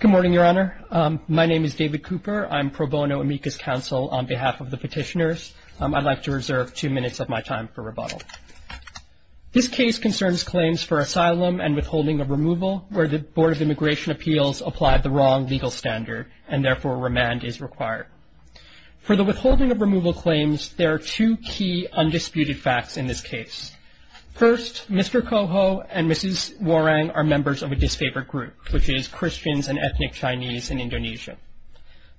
Good morning, Your Honor. My name is David Cooper. I'm pro bono amicus counsel on behalf of the petitioners. I'd like to reserve two minutes of my time for rebuttal. This case concerns claims for asylum and withholding of removal where the Board of Immigration Appeals applied the wrong legal standard and therefore remand is required. For the withholding of removal claims, there are two key undisputed facts in this case. First, Mr. Kojo and Mrs. Warang are members of a disfavored group, which is Christians and ethnic Chinese in Indonesia.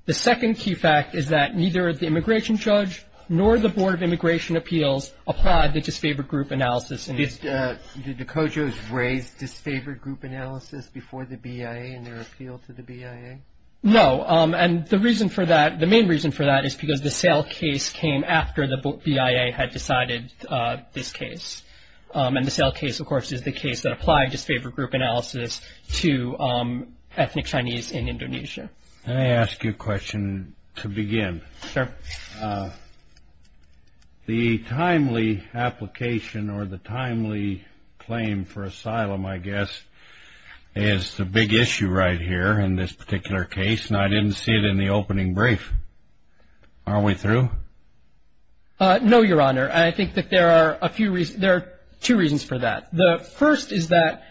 The second key fact is that neither the immigration judge nor the Board of Immigration Appeals applied the disfavored group analysis. Did the Kojos raise disfavored group analysis before the BIA in their appeal to the BIA? No, and the reason for that, the main reason for that is because the sale case came after the BIA had decided this case. And the sale case, of course, is the case that applied disfavored group analysis to ethnic Chinese in Indonesia. May I ask you a question to begin? Sure. The timely application or the timely claim for asylum, I guess, is the big issue right here in this particular case, and I didn't see it in the opening brief. Are we through? No, Your Honor. I think that there are a few reasons. There are two reasons for that. The first is that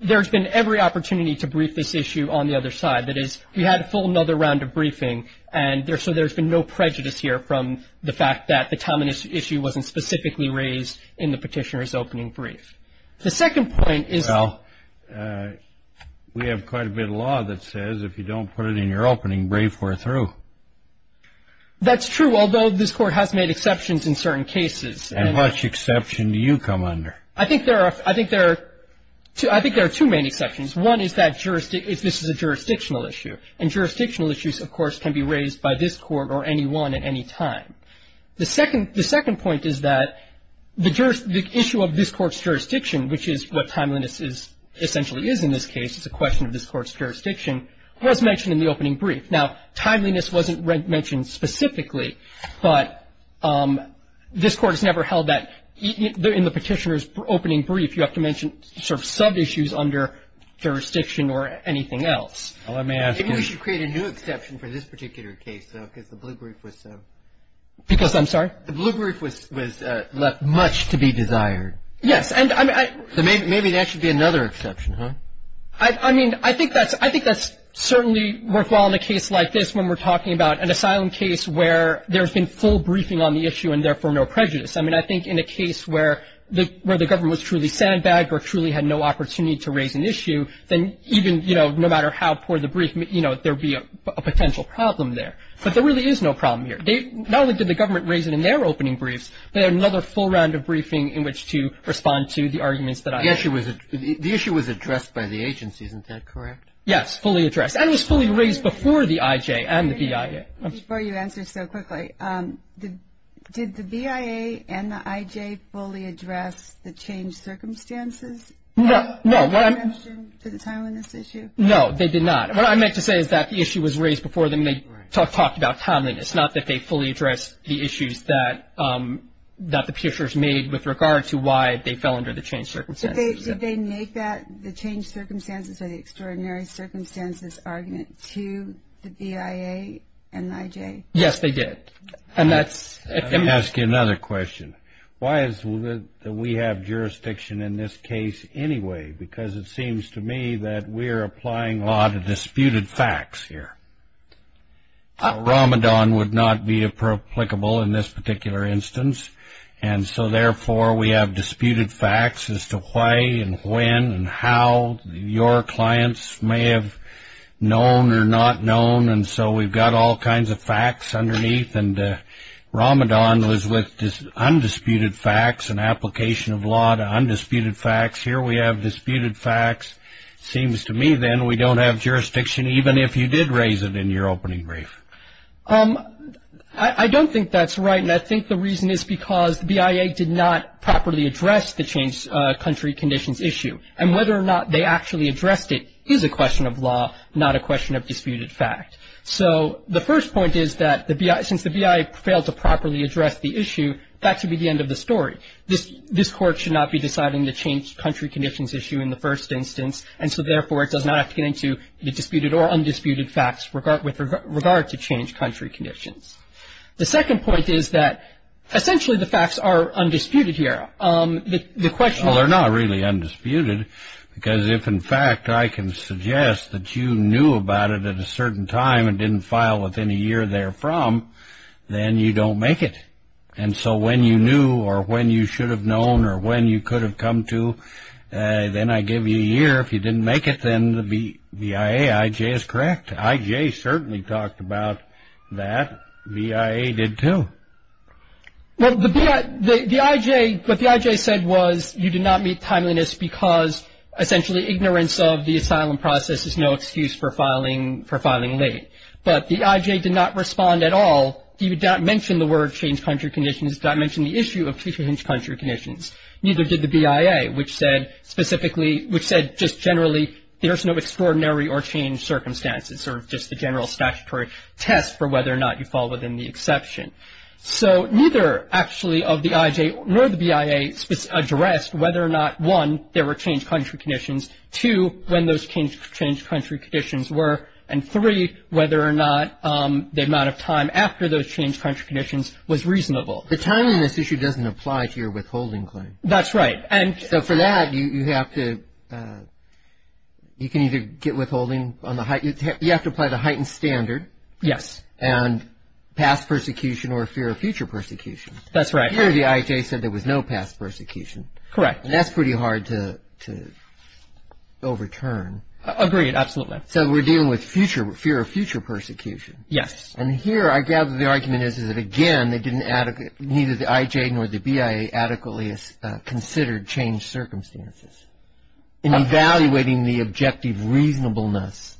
there's been every opportunity to brief this issue on the other side. That is, we had a full another round of briefing, and so there's been no prejudice here from the fact that the timing issue wasn't specifically raised in the petitioner's opening brief. The second point is that we have quite a bit of law that says if you don't put it in your opening brief, we're through. That's true, although this Court has made exceptions in certain cases. And which exception do you come under? I think there are two main exceptions. One is that this is a jurisdictional issue, and jurisdictional issues, of course, can be raised by this Court or any one at any time. The second point is that the issue of this Court's jurisdiction, which is what timeliness essentially is in this case, it's a question of this Court's jurisdiction, was mentioned in the opening brief. Now, timeliness wasn't mentioned specifically, but this Court has never held that in the petitioner's opening brief, if you have to mention sort of sub-issues under jurisdiction or anything else. Let me ask you. Maybe we should create a new exception for this particular case, though, because the blue brief was so. Because, I'm sorry? The blue brief was left much to be desired. Yes. So maybe that should be another exception, huh? I mean, I think that's certainly worthwhile in a case like this when we're talking about an asylum case where there's been full briefing on the issue and therefore no prejudice. I mean, I think in a case where the government was truly sandbagged or truly had no opportunity to raise an issue, then even, you know, no matter how poor the brief, you know, there would be a potential problem there. But there really is no problem here. Not only did the government raise it in their opening briefs, but they had another full round of briefing in which to respond to the arguments that I made. The issue was addressed by the agency, isn't that correct? Yes, fully addressed. And it was fully raised before the IJ and the BIA. Before you answer so quickly, did the BIA and the IJ fully address the changed circumstances? No. Did they mention the timeliness issue? No, they did not. What I meant to say is that the issue was raised before they talked about timeliness, not that they fully addressed the issues that the peers made with regard to why they fell under the changed circumstances. Did they make that the changed circumstances or the extraordinary circumstances argument to the BIA and the IJ? Yes, they did. And that's. Let me ask you another question. Why is it that we have jurisdiction in this case anyway? Because it seems to me that we're applying law to disputed facts here. Ramadan would not be applicable in this particular instance, and so, therefore, we have disputed facts as to why and when and how your clients may have known or not known, and so we've got all kinds of facts underneath. And Ramadan was with undisputed facts and application of law to undisputed facts. Here we have disputed facts. It seems to me, then, we don't have jurisdiction, even if you did raise it in your opening brief. I don't think that's right, and I think the reason is because the BIA did not properly address the changed country conditions issue, and whether or not they actually addressed it is a question of law, not a question of disputed fact. So the first point is that since the BIA failed to properly address the issue, that should be the end of the story. This Court should not be deciding the changed country conditions issue in the first instance, and so, therefore, it does not have to get into the disputed or undisputed facts with regard to changed country conditions. The second point is that essentially the facts are undisputed here. Well, they're not really undisputed because if, in fact, I can suggest that you knew about it at a certain time and didn't file within a year therefrom, then you don't make it. And so when you knew or when you should have known or when you could have come to, then I give you a year. If you didn't make it, then the BIA, I.J., is correct. I.J. certainly talked about that. BIA did too. Well, the I.J. What the I.J. said was you did not meet timeliness because, essentially, ignorance of the asylum process is no excuse for filing late. But the I.J. did not respond at all. He did not mention the word changed country conditions. He did not mention the issue of changed country conditions. Neither did the BIA, which said specifically, which said just generally there's no extraordinary or changed circumstances or just the general statutory test for whether or not you fall within the exception. So neither, actually, of the I.J. nor the BIA addressed whether or not, one, there were changed country conditions, two, when those changed country conditions were, and, three, whether or not the amount of time after those changed country conditions was reasonable. The timeliness issue doesn't apply to your withholding claim. That's right. So for that, you have to, you can either get withholding on the, you have to apply the heightened standard. Yes. And past persecution or fear of future persecution. That's right. Here, the I.J. said there was no past persecution. Correct. And that's pretty hard to overturn. Agreed. Absolutely. So we're dealing with future, fear of future persecution. Yes. And here, I gather the argument is that, again, they didn't adequately, neither the I.J. nor the BIA adequately considered changed circumstances. In evaluating the objective reasonableness.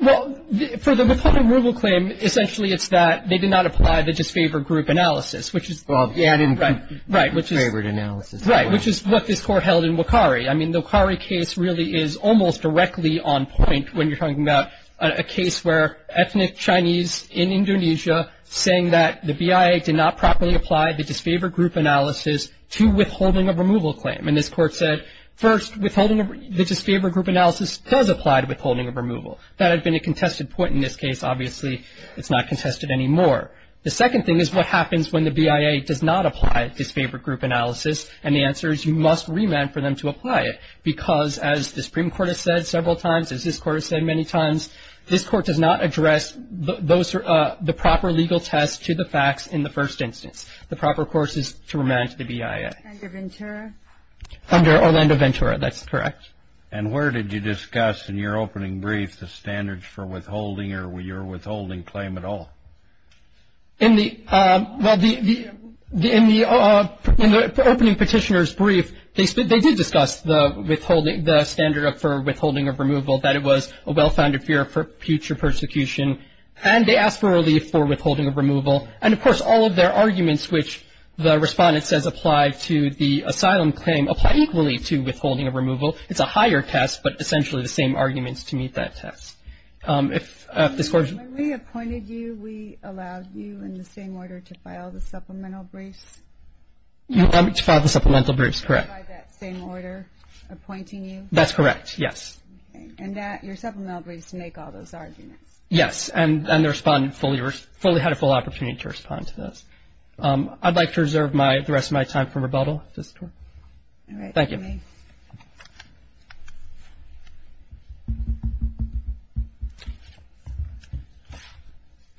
Well, for the withholding rule claim, essentially it's that they did not apply the disfavored group analysis, which is... Well, the added group. Right, which is... Disfavored analysis. Right, which is what this Court held in Wakari. I mean, the Wakari case really is almost directly on point when you're talking about a case where ethnic Chinese in Indonesia saying that the BIA did not properly apply the disfavored group analysis to withholding of removal claim. And this Court said, first, withholding the disfavored group analysis does apply to withholding of removal. That had been a contested point in this case. Obviously, it's not contested anymore. The second thing is what happens when the BIA does not apply disfavored group analysis, and the answer is you must remand for them to apply it. Because, as the Supreme Court has said several times, as this Court has said many times, this Court does not address the proper legal test to the facts in the first instance. The proper course is to remand to the BIA. Under Ventura? Under Orlando Ventura. That's correct. And where did you discuss in your opening brief the standards for withholding or your withholding claim at all? In the, well, in the opening petitioner's brief, they did discuss the withholding, the standard for withholding of removal, that it was a well-founded fear for future persecution. And they asked for relief for withholding of removal. And, of course, all of their arguments, which the Respondent says apply to the asylum claim, apply equally to withholding of removal. It's a higher test, but essentially the same arguments to meet that test. When we appointed you, we allowed you in the same order to file the supplemental briefs? You allowed me to file the supplemental briefs, correct. By that same order appointing you? That's correct, yes. Okay. And that, your supplemental briefs make all those arguments? Yes. And the Respondent fully had a full opportunity to respond to those. I'd like to reserve the rest of my time for rebuttal. All right. Thank you.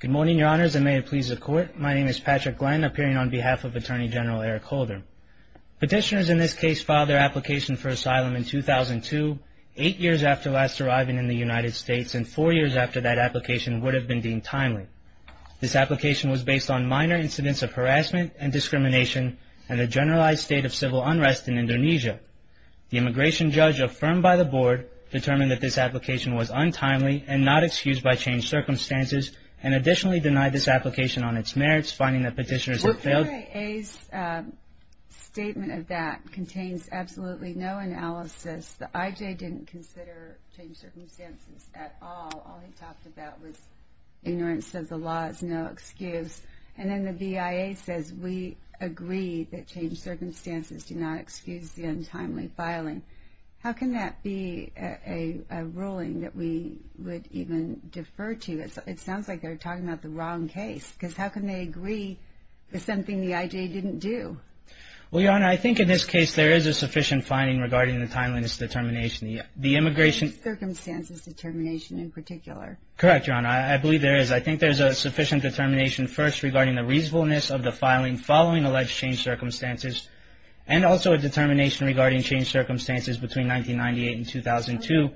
Good morning, Your Honors, and may it please the Court. My name is Patrick Glenn, appearing on behalf of Attorney General Eric Holder. Petitioners in this case filed their application for asylum in 2002, eight years after last arriving in the United States, and four years after that application would have been deemed timely. This application was based on minor incidents of harassment and discrimination and the generalized state of civil unrest in Indonesia. The immigration judge affirmed by the Board determined that this application was untimely and not excused by changed circumstances and additionally denied this application on its merits, finding that petitioners had failed. The BIA's statement of that contains absolutely no analysis. The IJ didn't consider changed circumstances at all. All he talked about was ignorance of the law is no excuse. And then the BIA says we agree that changed circumstances do not excuse the untimely filing. How can that be a ruling that we would even defer to? It sounds like they're talking about the wrong case, because how can they agree with something the IJ didn't do? Well, Your Honor, I think in this case there is a sufficient finding regarding the timeliness determination. The immigration. Circumstances determination in particular. Correct, Your Honor. I believe there is. I think there's a sufficient determination first regarding the reasonableness of the filing following alleged changed circumstances and also a determination regarding changed circumstances between 1998 and 2002.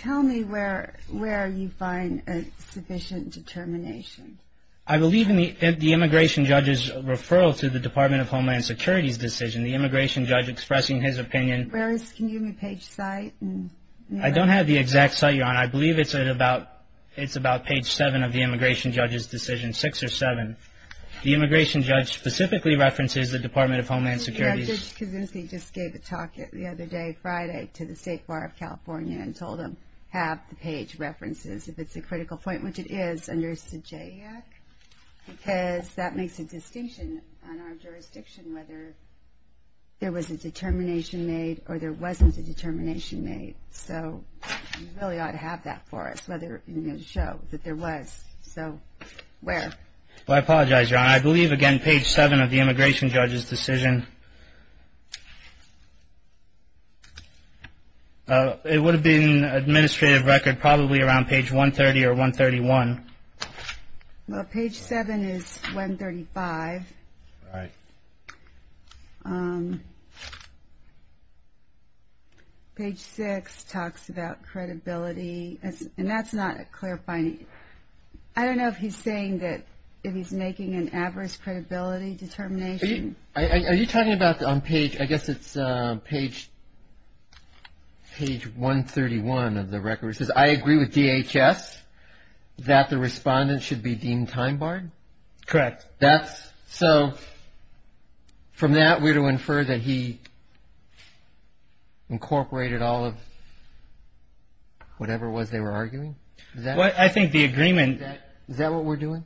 Tell me where you find a sufficient determination. I believe in the immigration judge's referral to the Department of Homeland Security's decision. The immigration judge expressing his opinion. Can you give me page site? I don't have the exact site, Your Honor. I believe it's about page 7 of the immigration judge's decision, 6 or 7. The immigration judge specifically references the Department of Homeland Security's Judge Kosinski just gave a talk the other day, Friday, to the State Bar of California and told them, have the page references. If it's a critical point, which it is, under SJAC, because that makes a distinction on our jurisdiction whether there was a determination made or there wasn't a determination made. So you really ought to have that for us to show that there was. So where? I apologize, Your Honor. I believe, again, page 7 of the immigration judge's decision. It would have been administrative record probably around page 130 or 131. Page 7 is 135. Right. Page 6 talks about credibility. And that's not clarifying. I don't know if he's saying that if he's making an adverse credibility determination. Are you talking about on page, I guess it's page 131 of the record, it says, I agree with DHS that the respondent should be deemed time-barred? Correct. So from that, we're to infer that he incorporated all of whatever it was they were arguing? I think the agreement. Is that what we're doing?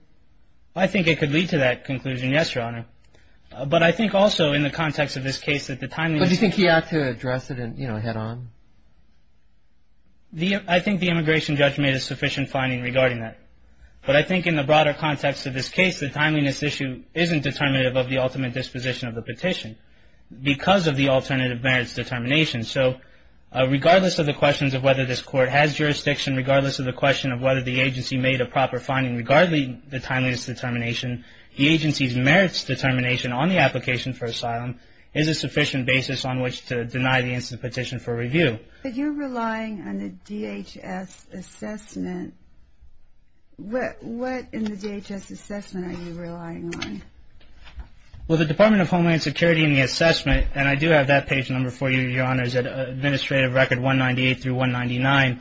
I think it could lead to that conclusion, yes, Your Honor. But I think also in the context of this case that the timeliness... But do you think he ought to address it head-on? I think the immigration judge made a sufficient finding regarding that. But I think in the broader context of this case, the timeliness issue isn't determinative of the ultimate disposition of the petition because of the alternative merits determination. So regardless of the questions of whether this court has jurisdiction, regardless of the question of whether the agency made a proper finding, regardless of the timeliness determination, the agency's merits determination on the application for asylum is a sufficient basis on which to deny the instant petition for review. But you're relying on the DHS assessment. What in the DHS assessment are you relying on? Well, the Department of Homeland Security in the assessment, and I do have that page number for you, Your Honors, Administrative Record 198 through 199,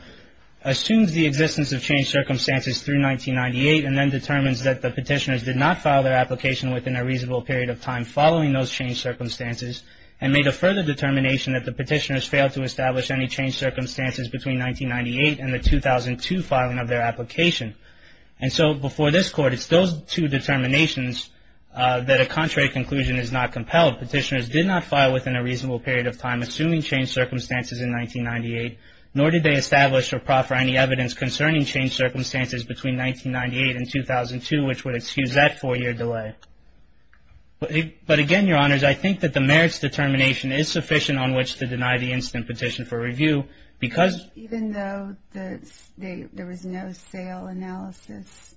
assumes the existence of changed circumstances through 1998 and then determines that the petitioners did not file their application within a reasonable period of time following those changed circumstances and made a further determination that the petitioners failed to establish any changed circumstances between 1998 and the 2002 filing of their application. And so before this Court, it's those two determinations that a contrary conclusion is not compelled. Petitioners did not file within a reasonable period of time assuming changed circumstances in 1998, nor did they establish or proffer any evidence concerning changed circumstances between 1998 and 2002, which would excuse that four-year delay. But again, Your Honors, I think that the merits determination is sufficient on which to deny the instant petition for review because Even though there was no sale analysis?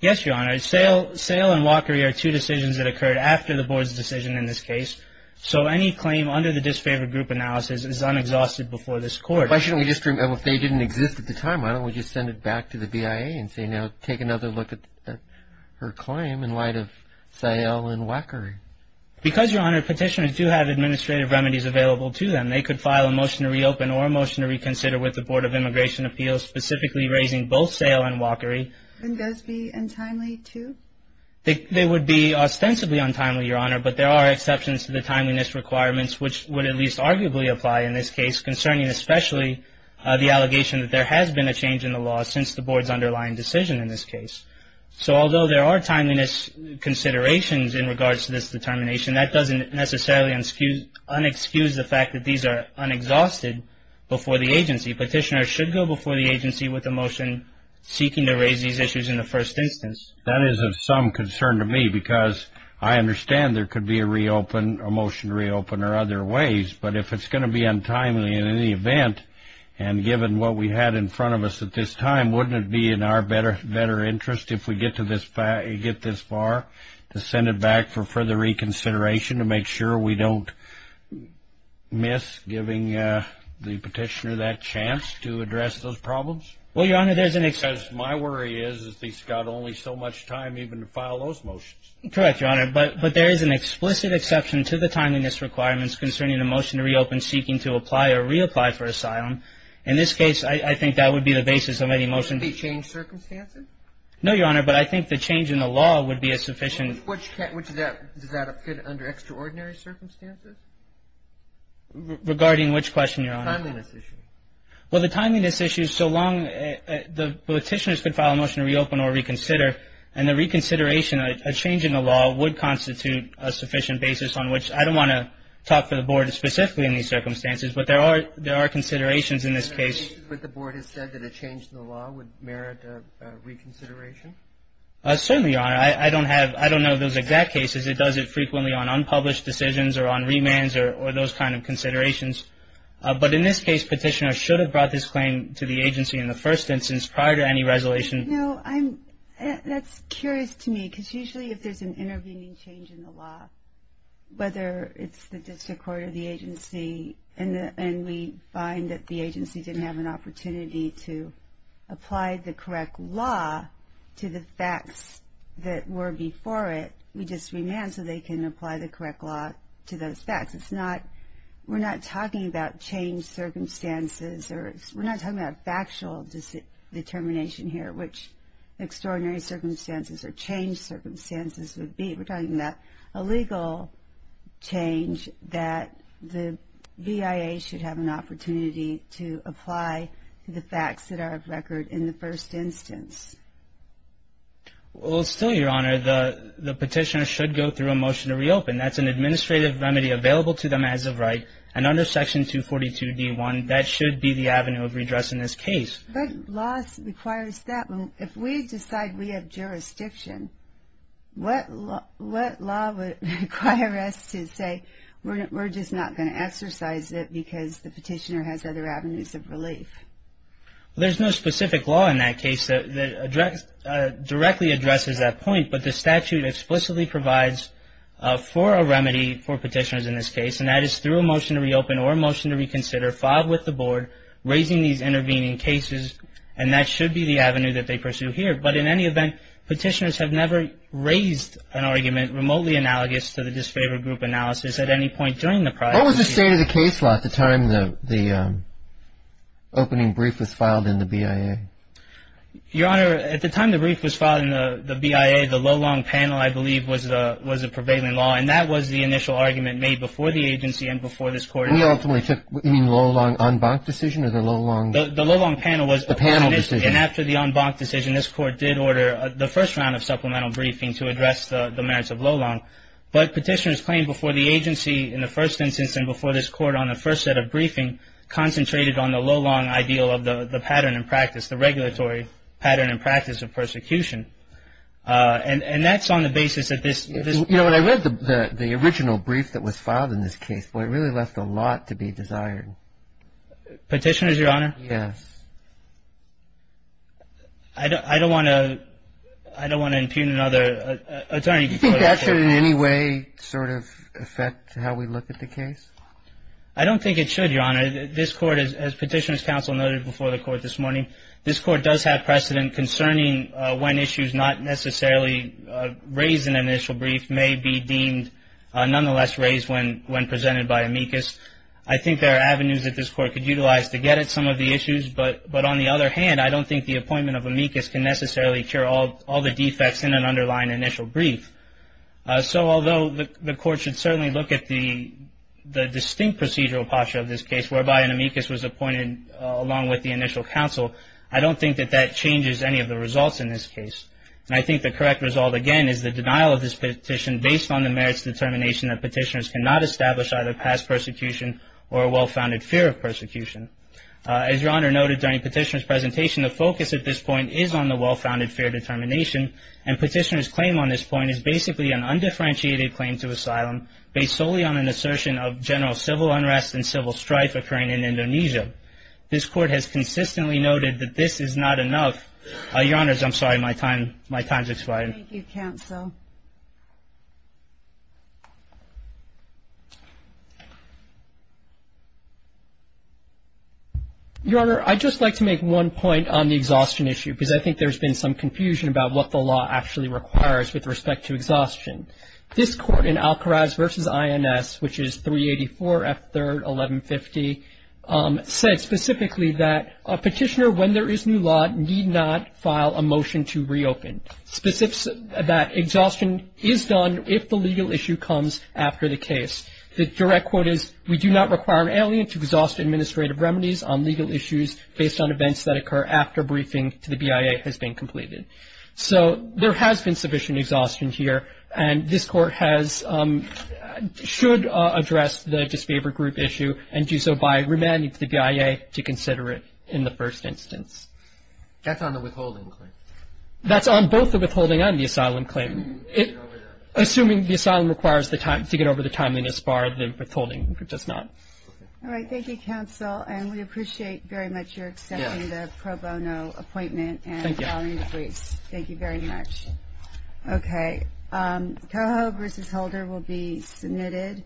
Yes, Your Honors. Sale and walkery are two decisions that occurred after the Board's decision in this case. So any claim under the disfavored group analysis is unexhausted before this Court. Why shouldn't we just remember if they didn't exist at the time, why don't we just send it back to the BIA and say, you know, take another look at her claim in light of sale and walkery? Because, Your Honor, petitioners do have administrative remedies available to them. They could file a motion to reopen or a motion to reconsider with the Board of Immigration Appeals specifically raising both sale and walkery. And those be untimely too? They would be ostensibly untimely, Your Honor, but there are exceptions to the timeliness requirements, which would at least arguably apply in this case, concerning especially the allegation that there has been a change in the law since the Board's underlying decision in this case. So although there are timeliness considerations in regards to this determination, that doesn't necessarily unexcuse the fact that these are unexhausted before the agency. Petitioners should go before the agency with a motion seeking to raise these issues in the first instance. That is of some concern to me because I understand there could be a reopen, a motion to reopen or other ways, but if it's going to be untimely in any event, and given what we had in front of us at this time, wouldn't it be in our better interest if we get this far to send it back for further reconsideration to make sure we don't miss giving the petitioner that chance to address those problems? Well, Your Honor, there's an exception. Because my worry is that he's got only so much time even to file those motions. Correct, Your Honor, but there is an explicit exception to the timeliness requirements concerning a motion to reopen seeking to apply or reapply for asylum. In this case, I think that would be the basis of any motion. Would it be change circumstances? No, Your Honor, but I think the change in the law would be a sufficient. Does that fit under extraordinary circumstances? Regarding which question, Your Honor? Timeliness issue. Well, the timeliness issue, so long the petitioners could file a motion to reopen or reconsider, and the reconsideration, a change in the law, would constitute a sufficient basis on which I don't want to talk for the Board specifically in these circumstances, but there are considerations in this case. But the Board has said that a change in the law would merit a reconsideration? Certainly, Your Honor. I don't know those exact cases. It does it frequently on unpublished decisions or on remands or those kind of considerations. But in this case, petitioner should have brought this claim to the agency in the first instance prior to any resolution. That's curious to me because usually if there's an intervening change in the law, whether it's the district court or the agency, and we find that the agency didn't have an opportunity to apply the correct law to the facts that were before it, we just remand so they can apply the correct law to those facts. We're not talking about change circumstances. We're not talking about factual determination here, which extraordinary circumstances or change circumstances would be. We're talking about a legal change that the BIA should have an opportunity to apply to the facts that are of record in the first instance. Well, still, Your Honor, the petitioner should go through a motion to reopen. That's an administrative remedy available to them as of right, and under Section 242 D.1, that should be the avenue of redress in this case. What law requires that? If we decide we have jurisdiction, what law would require us to say, we're just not going to exercise it because the petitioner has other avenues of relief? There's no specific law in that case that directly addresses that point, but the statute explicitly provides for a remedy for petitioners in this case, and that is through a motion to reopen or a motion to reconsider, filed with the board, raising these intervening cases, and that should be the avenue that they pursue here. But in any event, petitioners have never raised an argument remotely analogous to the disfavored group analysis at any point during the prior review. What was the state of the case law at the time the opening brief was filed in the BIA? Your Honor, at the time the brief was filed in the BIA, the low-long panel, I believe, was the prevailing law, and that was the initial argument made before the agency and before this Court. You mean low-long en banc decision or the low-long? The low-long panel was. The panel decision. And after the en banc decision, this Court did order the first round of supplemental briefing to address the merits of low-long. But petitioners claimed before the agency in the first instance and before this Court on the first set of briefing concentrated on the low-long ideal of the pattern and practice, the regulatory pattern and practice of persecution. And that's on the basis of this. You know, when I read the original brief that was filed in this case, it really left a lot to be desired. Petitioners, Your Honor? Yes. I don't want to impugn another attorney. Do you think that should in any way sort of affect how we look at the case? I don't think it should, Your Honor. This Court, as Petitioners' Counsel noted before the Court this morning, this Court does have precedent concerning when issues not necessarily raised in an initial brief may be deemed nonetheless raised when presented by amicus. I think there are avenues that this Court could utilize to get at some of the issues. But on the other hand, I don't think the appointment of amicus can necessarily cure all the defects in an underlying initial brief. So although the Court should certainly look at the distinct procedural posture of this case, whereby an amicus was appointed along with the initial counsel, I don't think that that changes any of the results in this case. And I think the correct result, again, is the denial of this petition based on the merits determination that petitioners cannot establish either past persecution or a well-founded fear of persecution. As Your Honor noted during Petitioner's presentation, the focus at this point is on the well-founded fear determination. And Petitioner's claim on this point is basically an undifferentiated claim to asylum based solely on an assertion of general This Court has consistently noted that this is not enough. Your Honors, I'm sorry, my time has expired. Thank you, counsel. Your Honor, I'd just like to make one point on the exhaustion issue, because I think there's been some confusion about what the law actually requires with respect to exhaustion. This Court in Alkiraz v. INS, which is 384 F. 3rd, 1150, said specifically that a petitioner, when there is new law, need not file a motion to reopen. Specifics that exhaustion is done if the legal issue comes after the case. The direct quote is, we do not require an alien to exhaust administrative remedies on legal issues based on events that occur after a briefing to the BIA has been completed. So there has been sufficient exhaustion here, and this Court should address the disfavored group issue and do so by remanding to the BIA to consider it in the first instance. That's on the withholding claim. That's on both the withholding and the asylum claim. Assuming the asylum requires to get over the timeliness bar, the withholding does not. All right. Thank you, counsel. And we appreciate very much your accepting the pro bono appointment and filing the briefs. Thank you very much. Okay. Coho v. Holder will be submitted.